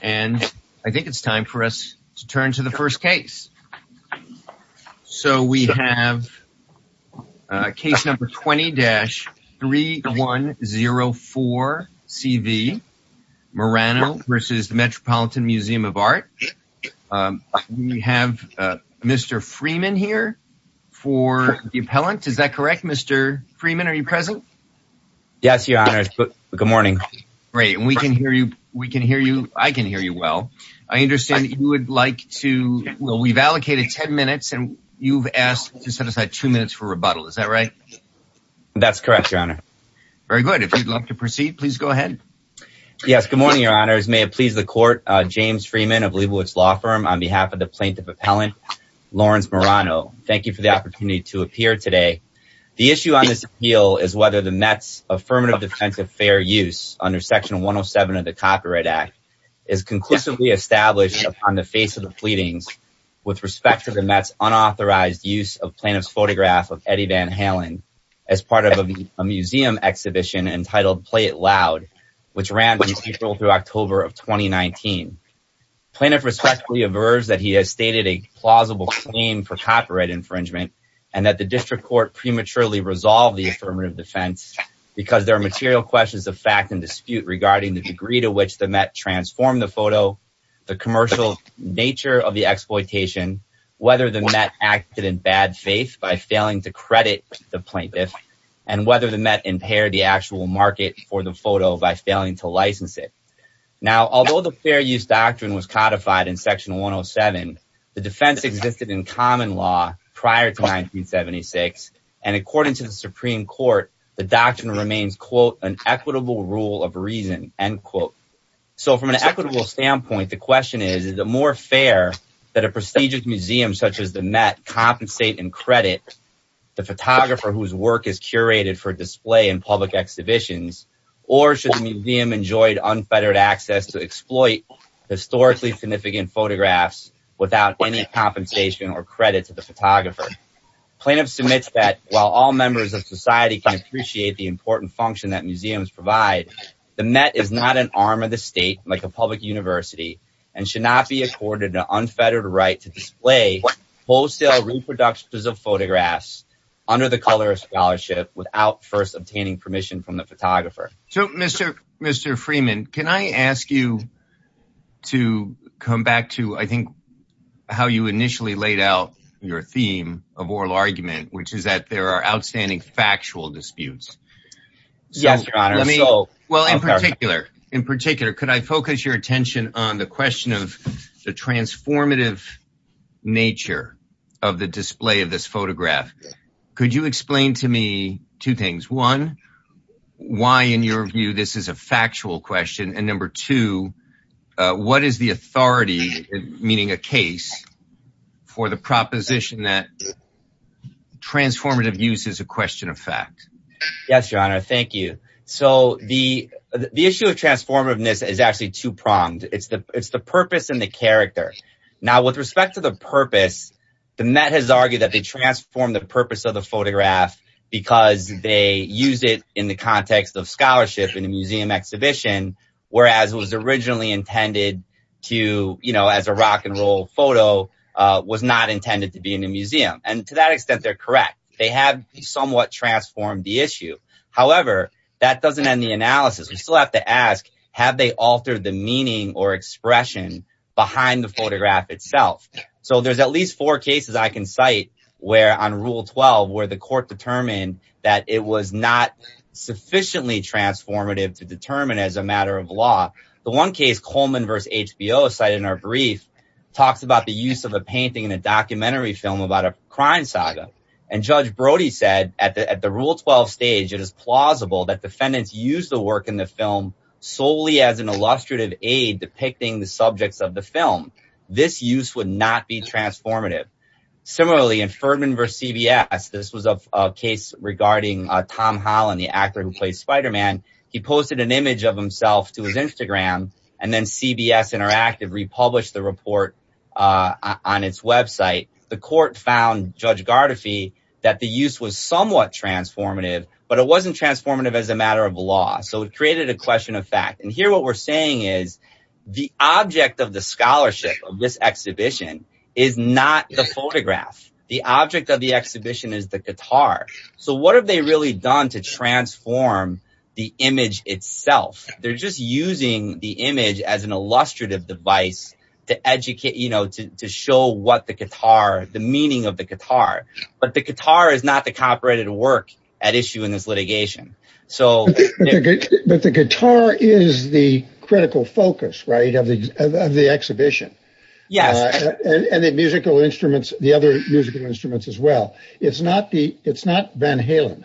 And I think it's time for us to turn to the first case. So we have case number 20-3104CV, Marano v. The Metropolitan Museum of Art. We have Mr. Freeman here for the appellant. Is that correct, Mr. Freeman? Are you present? Yes, your honor. Good morning. Great. And we can hear you. We can hear you. I can hear you well. I understand you would like to, well, we've allocated 10 minutes and you've asked to set aside two minutes for rebuttal. Is that right? That's correct, your honor. Very good. If you'd love to proceed, please go ahead. Yes. Good morning, your honors. May it please the court, James Freeman of Leibowitz Law Firm on behalf of the plaintiff appellant, Lawrence Marano. Thank you for the opportunity to appear today. The issue on this appeal is whether the Met's affirmative defense of fair use under section 107 of the Copyright Act is conclusively established on the face of the pleadings with respect to the Met's unauthorized use of plaintiff's photograph of Eddie Van Halen as part of a museum exhibition entitled Play It Loud, which ran from April through October of 2019. Plaintiff respectfully averves that he has stated a plausible claim for copyright infringement and that the district court prematurely resolved the affirmative defense because there are material questions of fact and dispute regarding the degree to which the Met transformed the photo, the commercial nature of the exploitation, whether the Met acted in bad faith by failing to credit the plaintiff and whether the Met impaired the actual market for the photo by failing to license it. Now, although the fair use doctrine was codified in section 107, the defense existed in common law prior to 1976 and according to the Supreme Court, the doctrine remains, quote, an equitable rule of reason, end quote. So from an equitable standpoint, the question is, is it more fair that a prestigious museum such as the Met compensate and credit the photographer whose work is curated for display in public exhibitions or should the museum enjoy unfettered access to exploit historically significant photographs without any compensation or credit to the photographer? Plaintiff submits that while all members of society can appreciate the important function that museums provide, the Met is not an arm of the state like a public university and should not be accorded an unfettered right to display wholesale reproductions of photographs under the color of scholarship without first obtaining permission from the photographer. So Mr. Freeman, can I ask you to come back to, I think, how you initially laid out your theme of oral argument, which is that there are outstanding factual disputes. Yes, your honor. Well, in particular, in particular, could I focus your attention on the question of the transformative nature of the display of this photograph? Could you explain to me two things? One, why in your view this is a factual question? And number two, what is the authority, meaning a case, for the proposition that transformative use is a question of fact? Yes, your honor. Thank you. So the issue of transformativeness is actually two-pronged. It's the purpose and the character. Now, with respect to the purpose, the Met has argued that they transform the purpose of the photograph because they use it in the context of scholarship in a museum exhibition, whereas it was originally intended to, you know, as a rock and roll photo, was not intended to be in a museum. And to that extent, they're correct. They have somewhat transformed the issue. However, that doesn't end the analysis. We still have to ask, have they altered the meaning or expression behind the photograph itself? So there's at least four cases I can cite where, on rule 12, where the court determined that it was not sufficiently transformative to determine as a matter of law. The one case Coleman v. HBO cited in our brief talks about the use of a painting in a documentary film about a crime saga. And Judge Brody said at the rule 12 stage, it is plausible that defendants use the work in the film solely as an illustrative aid depicting the subjects of the film. This use would not be transformative. Similarly, in Ferdman v. CBS, this was a case regarding Tom Holland, the actor who played Spider-Man. He posted an image of himself to his Instagram, and then CBS Interactive republished the report on its website. The court found, Judge Gardefee, that the use was somewhat transformative, but it wasn't transformative as a matter of law. So it created a question of fact. And here what we're saying is, the object of the scholarship of this exhibition is not the photograph. The object of the exhibition is the guitar. So what have they really done to transform the image itself? They're just using the image as an illustrative device to educate, you know, to show what the guitar, the meaning of the guitar. But the guitar is not the copyrighted work at issue in this litigation. So... But the guitar is the critical focus, right, of the exhibition. Yes. And the musical instruments, the other musical instruments as well. It's not the, it's not Van Halen.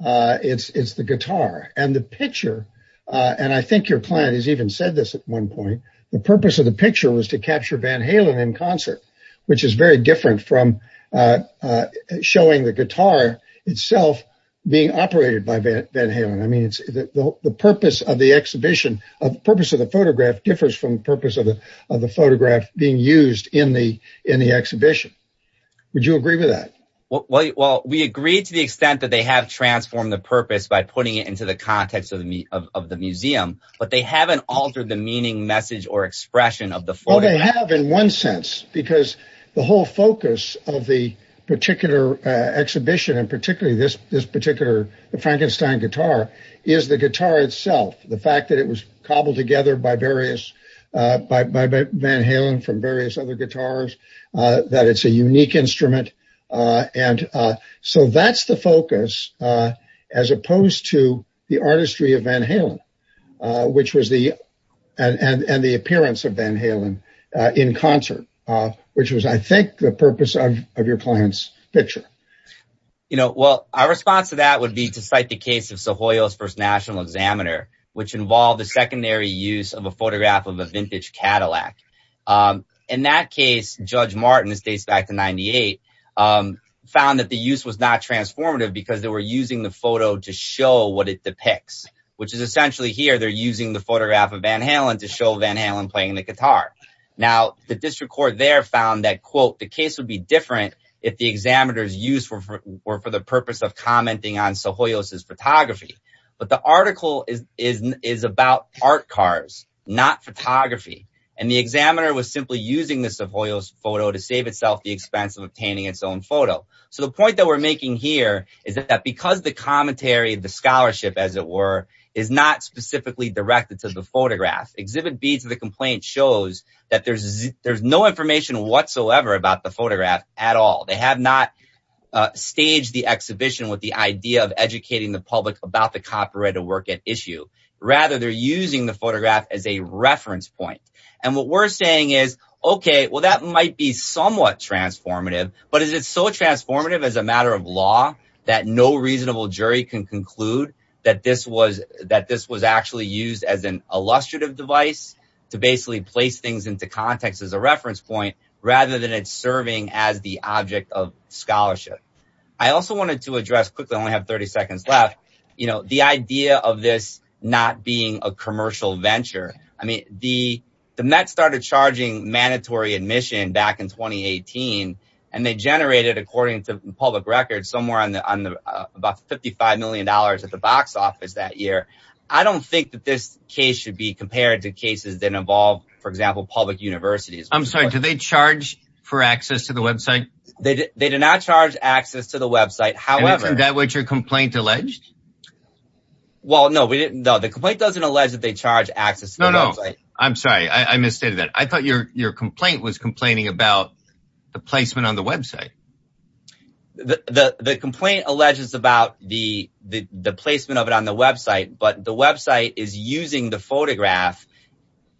It's the guitar. And the picture, and I think your client has even said this at one point, the purpose of the picture was to capture Van Halen in concert, which is very different from showing the guitar itself being operated by Van Halen. I mean, the purpose of the exhibition, the purpose of the photograph differs from the purpose of the photograph being used in the exhibition. Would you agree with that? Well, we agree to the extent that they have transformed the purpose by putting it into the context of the museum, but they haven't altered the meaning, message, or expression of the photograph. Well, they have in one sense, because the whole focus of the particular exhibition, and particularly this particular Frankenstein guitar, is the guitar itself. The fact that it was cobbled together by various, by Van Halen from various other guitars, that it's a unique instrument. And so that's the focus, as opposed to the artistry of Van Halen, which was the, and the appearance of Van Halen in concert, which was, I think, the purpose of your client's picture. You know, well, our response to that would be to cite the case of Sohoyo's First National Examiner, which involved the secondary use of a photograph of a vintage Cadillac. In that case, Judge Martin, this dates back to 98, found that the use was not transformative because they were using the photo to show what it depicts, which is essentially here, they're using the photograph of Van Halen to show Van Halen playing the guitar. Now, the district court there found that, quote, the case would be different if the examiner's use were for the purpose of commenting on Sohoyo's photography. But the article is about art cars, not photography. And the examiner was simply using the Sohoyo's photo to save itself the expense of obtaining its own photo. So the point that we're making here is that because the commentary, the scholarship, as it were, is not specifically directed to the photograph, Exhibit B to the complaint shows that there's no information whatsoever about the photograph at all. They have not staged the exhibition with the idea of educating the public about the copyrighted work at issue. Rather, they're using the photograph as a reference point. And what we're saying is, OK, well, that might be somewhat transformative. But is it so transformative as a matter of law that no reasonable jury can conclude that this was that this was actually used as an illustrative device to basically place things into context as a reference point rather than it's serving as the object of scholarship? I also wanted to address quickly. I only have 30 seconds left. You know, the idea of this not being a commercial venture. I mean, the the Met started charging mandatory admission back in twenty eighteen and they generated, according to public records, somewhere on the on the about fifty five million dollars at the box office that year. I don't think that this case should be compared to cases that involve, for example, public universities. I'm sorry. Do they charge for access to the website? They do not charge access to the website. However, that what your complaint alleged? Well, no, we didn't know the complaint doesn't allege that they charge access. No, no. I'm sorry. I misstated that. I thought your your complaint was complaining about the placement on the website. The complaint alleges about the the placement of it on the website, but the website is using the photograph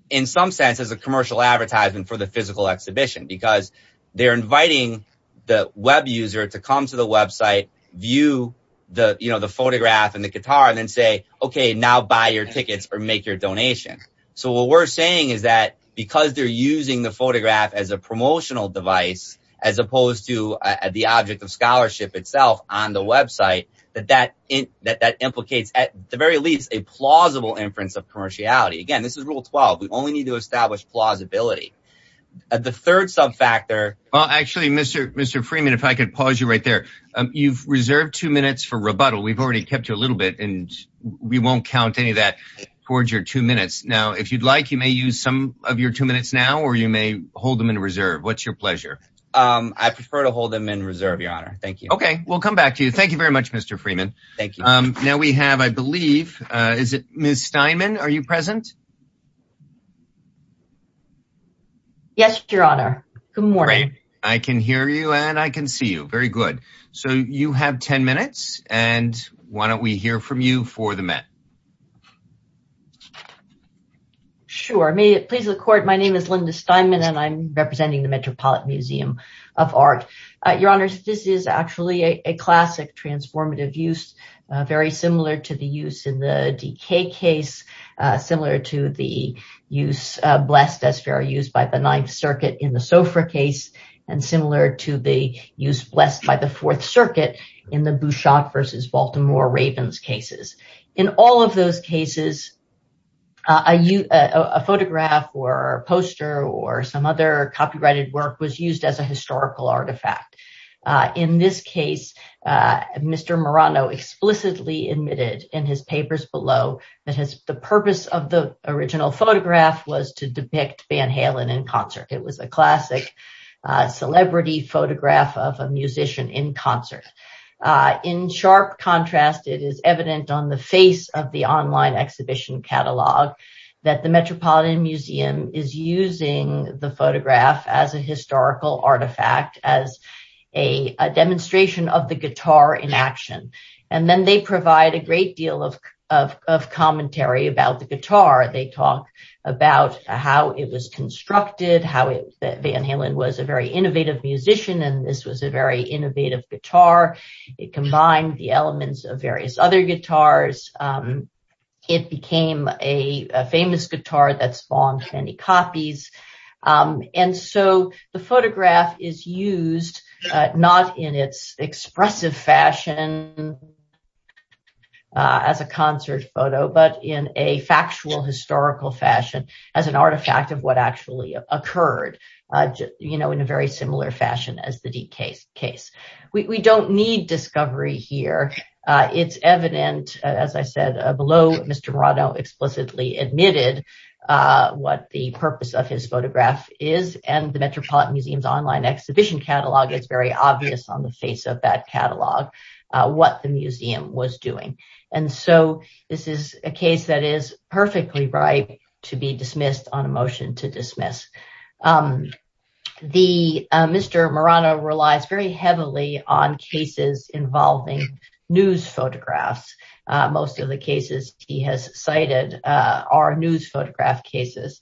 in some sense as a commercial advertisement for the physical exhibition because they're inviting the Web user to come to the website, view the, you know, the photograph and the guitar and then say, OK, now buy your tickets or make your donation. So what we're saying is that because they're using the photograph as a promotional device, as opposed to the object of scholarship itself on the website, that that that that implicates at the very least a plausible inference of commerciality. Again, this is rule twelve. We only need to establish plausibility at the third sub factor. Well, actually, Mr. Mr. Freeman, if I could pause you right there, you've reserved two minutes for rebuttal. We've already kept you a little bit and we won't count any of that towards your two minutes. Now, if you'd like, you may use some of your two minutes now or you may hold them in reserve. What's your pleasure? I prefer to hold them in reserve, your honor. Thank you. OK, we'll come back to you. Thank you very much, Mr. Freeman. Thank you. Now we have, I believe, is it Miss Steinman? Are you present? Yes, your honor. Good morning. I can hear you and I can see you. Very good. So you have 10 minutes. And why don't we hear from you for the Met? Sure. May it please the court. My name is Linda Steinman and I'm representing the Metropolitan Museum of Art. Your honors, this is actually a classic transformative use, very similar to the use in the D.K. case, similar to the use blessed as fair used by the Ninth Circuit in the Sofra case and similar to the use blessed by the Fourth Circuit in the Bouchot versus Baltimore Ravens cases. In all of those cases, a photograph or a poster or some other copyrighted work was used as historical artifact. In this case, Mr. Morano explicitly admitted in his papers below that the purpose of the original photograph was to depict Van Halen in concert. It was a classic celebrity photograph of a musician in concert. In sharp contrast, it is evident on the face of the online exhibition catalog that the Metropolitan Museum is using the photograph as a historical artifact, as a demonstration of the guitar in action. And then they provide a great deal of commentary about the guitar. They talk about how it was constructed, how Van Halen was a very innovative musician and this was a very innovative guitar. It combined the elements of various other guitars. It became a famous guitar that spawned many copies. And so the photograph is used not in its expressive fashion as a concert photo, but in a factual historical fashion as an artifact of what actually occurred, you know, in a very similar fashion as the D.K. case. We don't need discovery here. It's evident, as I said below, Mr. Morano explicitly admitted what the purpose of his photograph is and the Metropolitan Museum's online exhibition catalog is very obvious on the face of that catalog what the museum was doing. And so this is a case that is perfectly ripe to be dismissed on a motion to dismiss. Mr. Morano relies very heavily on cases involving news photographs. Most of the cases he has cited are news photograph cases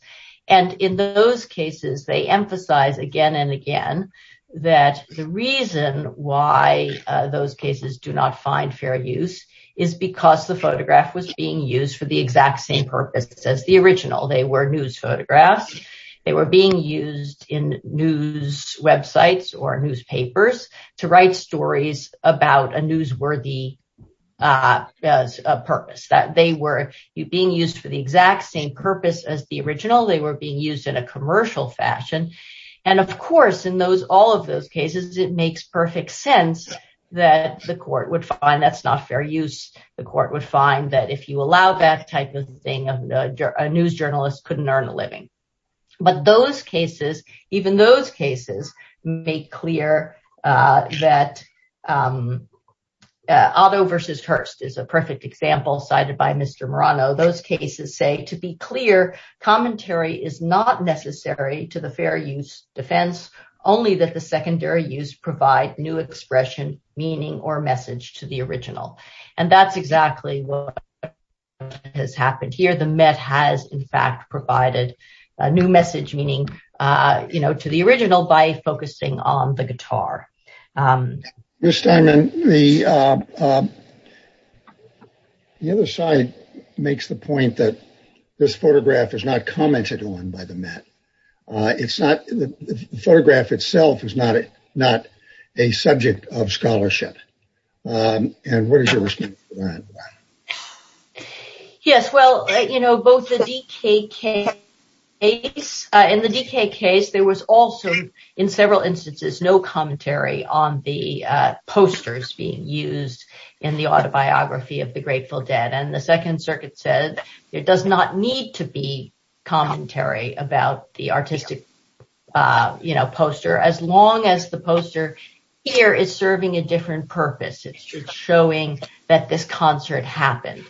and in those cases they emphasize again and again that the reason why those cases do not find fair use is because the photograph was being used for the exact same purpose as the original. They were news photographs. They were being used in news websites or newspapers to write stories about a newsworthy purpose. That they were being used for the exact same purpose as the original. They were being used in a commercial fashion and of course in those all of those cases it makes perfect sense that the court would find that's not fair use. The court would find that if you allow that type of thing a news journalist couldn't earn a living. But those cases even those cases make clear that Otto versus Hearst is a perfect example cited by Mr. Morano. Those cases say to be clear commentary is not necessary to the fair use defense only that the secondary use provide new expression meaning or message to the original and that's exactly what has happened here. The Met has in fact provided a new message meaning you know to the original by focusing on the guitar. Ms. Steinman the other side makes the point that this photograph is not commented on by the Met. It's not the photograph itself is not it not a subject of scholarship and what is your response to that? Yes well you know both the DK case in the DK case there was also in several instances no commentary on the posters being used in the autobiography of the Grateful Dead and the Second Circuit said it does not need to be commentary about the artistic you know poster as long as the poster here is serving a different purpose. It's just showing that this concert happened.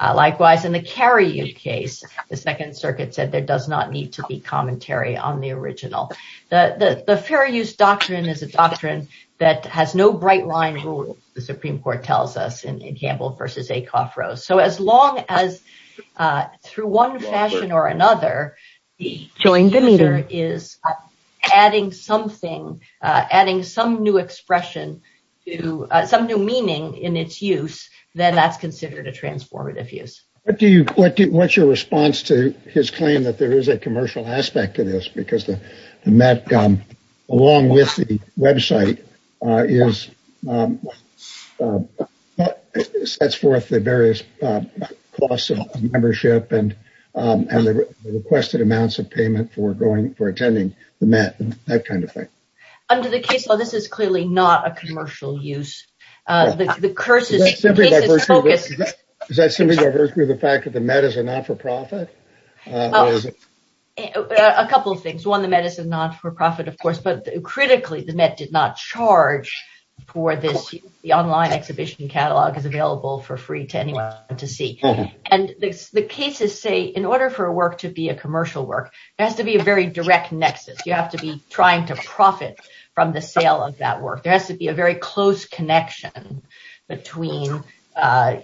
Likewise in the Carrie case the Second Circuit said there does not need to be commentary on the original. The fair use doctrine is a doctrine that has no bright line rule the Supreme Court tells us in through one fashion or another the user is adding something adding some new expression to some new meaning in its use then that's considered a transformative use. What's your response to his claim that there is a commercial aspect to this because the Met along with the membership and and the requested amounts of payment for going for attending the Met and that kind of thing? Under the case law this is clearly not a commercial use. Is that simply the fact that the Met is a not-for-profit? A couple of things one the Met is a not-for-profit of course but critically the Met did not charge for this the online exhibition catalog is available for free to anyone to see and the cases say in order for a work to be a commercial work there has to be a very direct nexus you have to be trying to profit from the sale of that work there has to be a very close connection between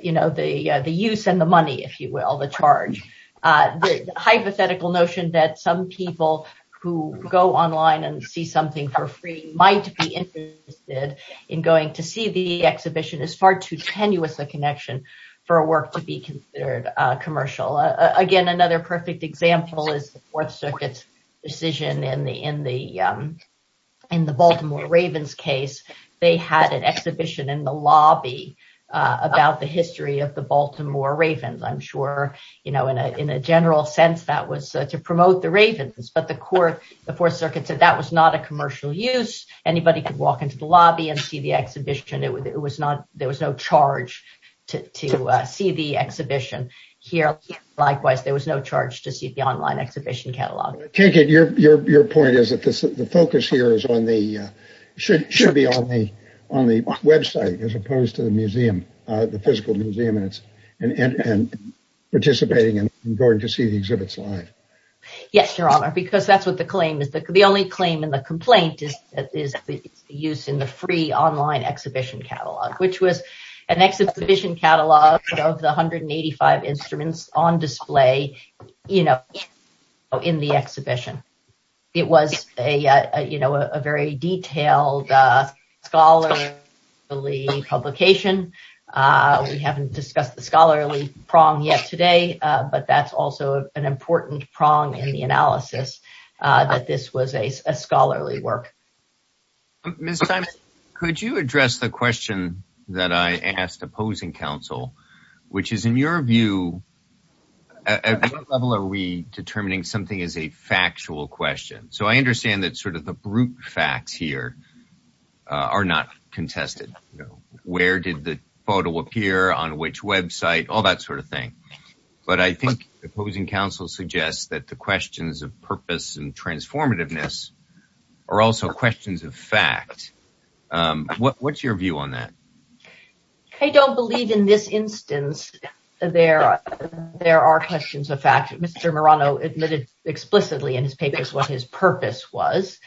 you know the the use and the money if you will the charge the hypothetical notion that some people who go online and see something for free might be interested in going to see the exhibition is far too tenuous a connection for a work to be considered commercial. Again another perfect example is the Fourth Circuit's decision in the Baltimore Ravens case they had an exhibition in the lobby about the history of the Baltimore Ravens. I'm sure you know in a general sense that was to promote the Ravens but the court the Fourth Circuit said that was not a commercial use anybody could walk into the lobby and see the exhibition it was not there was no charge to see the exhibition here likewise there was no charge to see the online exhibition catalog. Kinkin your point is that the focus here is on the should be on the website as opposed to the yes your honor because that's what the claim is the only claim in the complaint is is the use in the free online exhibition catalog which was an exhibition catalog of the 185 instruments on display you know in the exhibition it was a you know a very detailed scholarly publication we haven't discussed the scholarly prong yet today but that's also an important prong in the analysis that this was a scholarly work. Ms. Simon could you address the question that I asked opposing counsel which is in your view at what level are we determining something is a factual question so I understand that sort of the brute facts here are not contested you know where did the photo appear on which website all that sort of thing but I think opposing counsel suggests that the questions of purpose and transformativeness are also questions of fact what's your view on that? I don't believe in this instance there are questions of fact Mr. Murano admitted explicitly in his papers what his purpose was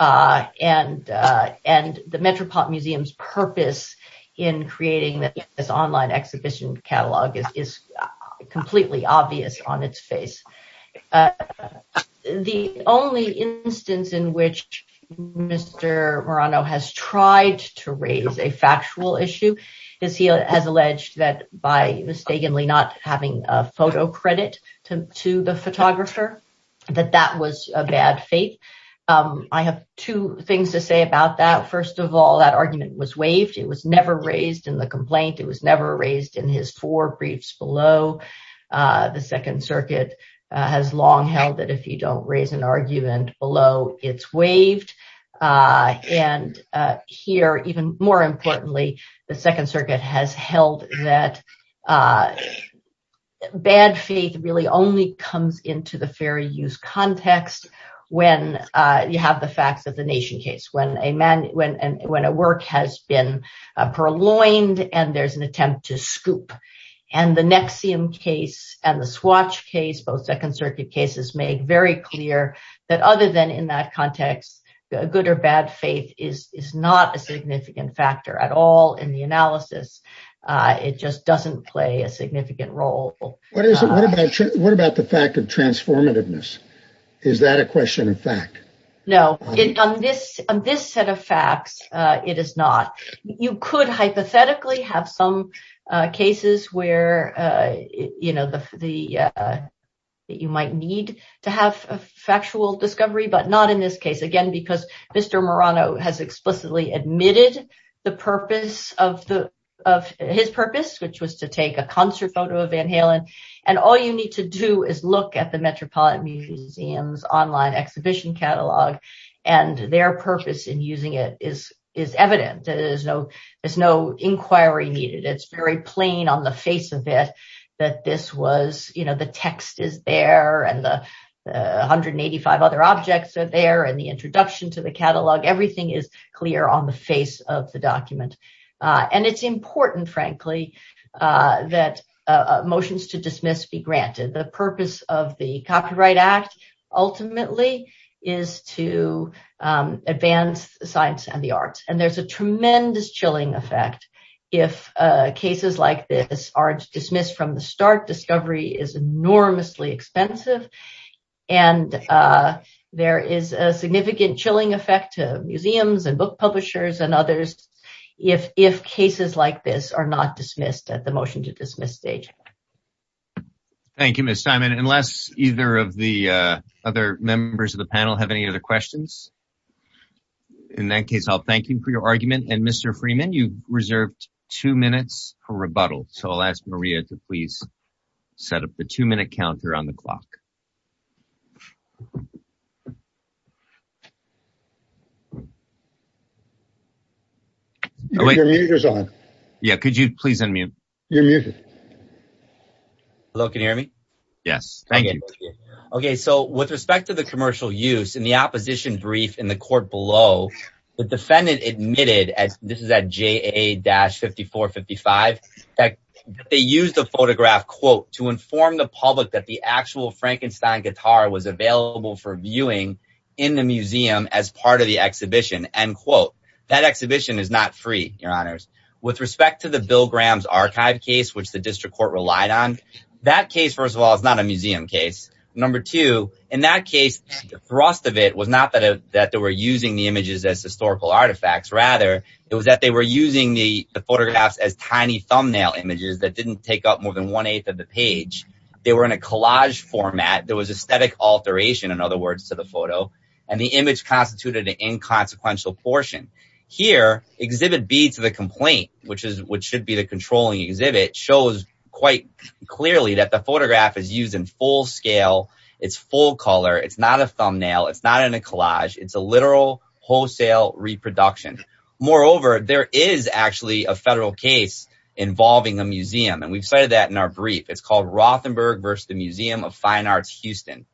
and the Metropolitan Museum's purpose in creating this online exhibition catalog is completely obvious on its face. The only instance in which Mr. Murano has tried to raise a factual issue is he has alleged that by mistakenly not having a photo credit to the photographer that that was a bad fate. I have two things to say about that first of all that argument was waived it was never raised in the complaint it was never raised in his four briefs below the Second Circuit has long held that if you don't raise an argument below it's waived and here even more importantly the Second Circuit has held that bad faith really only comes into the fair use context when you have the facts of the nation case when a man when when a work has been purloined and there's an attempt to scoop and the NXIVM case and the Swatch case both Second Circuit cases make very clear that other than in that context the good or bad faith is is not a significant factor at all in the analysis it just doesn't play a significant role what is it what about what about the fact of transformativeness is that a question of fact no on this on this set of facts uh it is not you could hypothetically have some uh cases where uh you know the the uh that you might need to have a factual discovery but not in this case again because Mr. Murano has explicitly admitted the purpose of the of the NXIVM case was to take a concert photo of Van Halen and all you need to do is look at the Metropolitan Museum's online exhibition catalog and their purpose in using it is is evident there's no there's no inquiry needed it's very plain on the face of it that this was you know the text is there and the 185 other objects are there and the introduction to the catalog everything is on the face of the document uh and it's important frankly uh that uh motions to dismiss be granted the purpose of the Copyright Act ultimately is to um advance science and the arts and there's a tremendous chilling effect if uh cases like this are dismissed from the start discovery is enormously expensive and uh there is a significant chilling effect to museums and book publishers and others if if cases like this are not dismissed at the motion to dismiss stage. Thank you Ms. Simon unless either of the uh other members of the panel have any other questions in that case I'll thank you for your argument and Mr. Freeman you reserved two minutes for rebuttal so I'll ask Maria to please set up the two-minute counter on the clock. Yeah could you please unmute your music hello can you hear me yes thank you okay so with respect to the commercial use in the opposition brief in the court below the defendant admitted as this is at AA-5455 that they used a photograph quote to inform the public that the actual Frankenstein guitar was available for viewing in the museum as part of the exhibition end quote that exhibition is not free your honors with respect to the Bill Graham's archive case which the district court relied on that case first of all it's not a museum case number two in that case the thrust of it was not that that they were using the images as historical artifacts rather it was that they were using the photographs as tiny thumbnail images that didn't take up more than one-eighth of the page they were in a collage format there was aesthetic alteration in other words to the photo and the image constituted an inconsequential portion here exhibit b to the complaint which is which should be the controlling exhibit shows quite clearly that the photograph is used in scale it's full color it's not a thumbnail it's not in a collage it's a literal wholesale reproduction moreover there is actually a federal case involving a museum and we've cited that in our brief it's called Rothenberg versus the Museum of Fine Arts Houston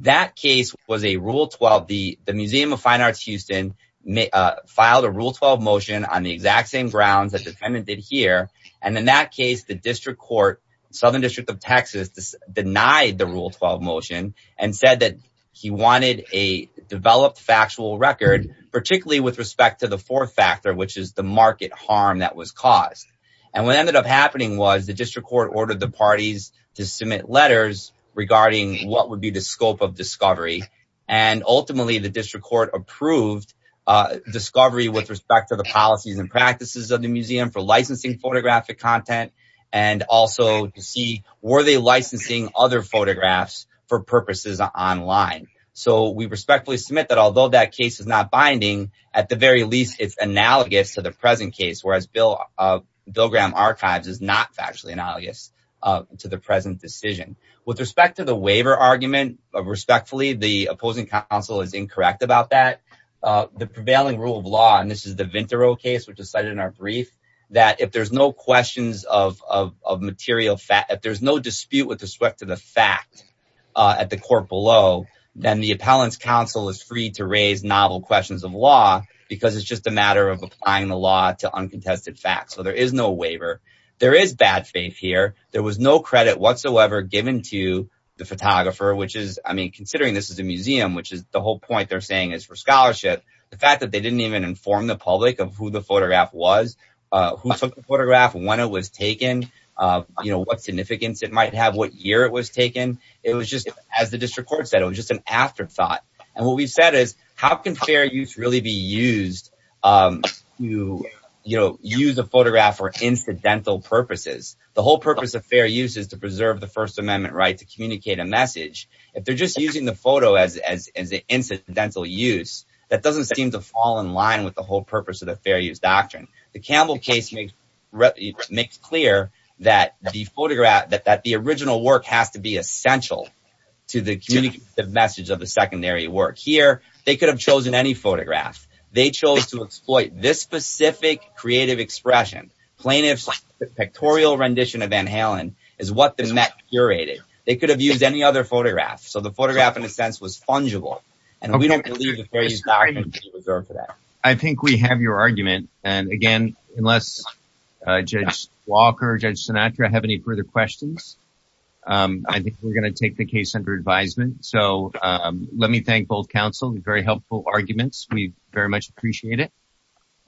that case was a rule 12 the the Museum of Fine Arts Houston may filed a rule 12 motion on the exact same grounds that defendant did here and in that case the district court southern district of texas denied the rule 12 motion and said that he wanted a developed factual record particularly with respect to the fourth factor which is the market harm that was caused and what ended up happening was the district court ordered the parties to submit letters regarding what would be the scope of discovery and ultimately the district court approved uh discovery with respect to the policies and practices of the photographic content and also to see were they licensing other photographs for purposes online so we respectfully submit that although that case is not binding at the very least it's analogous to the present case whereas bill of bill graham archives is not factually analogous to the present decision with respect to the waiver argument respectfully the opposing counsel is incorrect about that uh the prevailing rule of law and this is the vintero case which is cited in our brief that if there's no questions of of of material fact that there's no dispute with respect to the fact uh at the court below then the appellant's counsel is free to raise novel questions of law because it's just a matter of applying the law to uncontested facts so there is no waiver there is bad faith here there was no credit whatsoever given to the photographer which is i mean considering this is a museum which is the whole point they're saying is for scholarship the fact that they didn't even inform the public of who the photograph was uh who took the photograph when it was taken uh you know what significance it might have what year it was taken it was just as the district court said it was just an afterthought and what we've said is how can fair use really be used um to you know use a photograph for incidental purposes the whole purpose of fair use is to preserve the first amendment right to communicate a message if just using the photo as as the incidental use that doesn't seem to fall in line with the whole purpose of the fair use doctrine the campbell case makes clear that the photograph that that the original work has to be essential to the communicative message of the secondary work here they could have chosen any photograph they chose to exploit this specific creative expression plaintiff's pictorial rendition of van halen is what the met curated they could have used any other photograph so the photograph in a sense was fungible and we don't believe that i think we have your argument and again unless uh judge walker judge sinatra have any further questions um i think we're going to take the case under advisement so um let me thank both council the very helpful arguments we very much appreciate it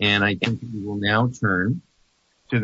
and i think we will now turn to the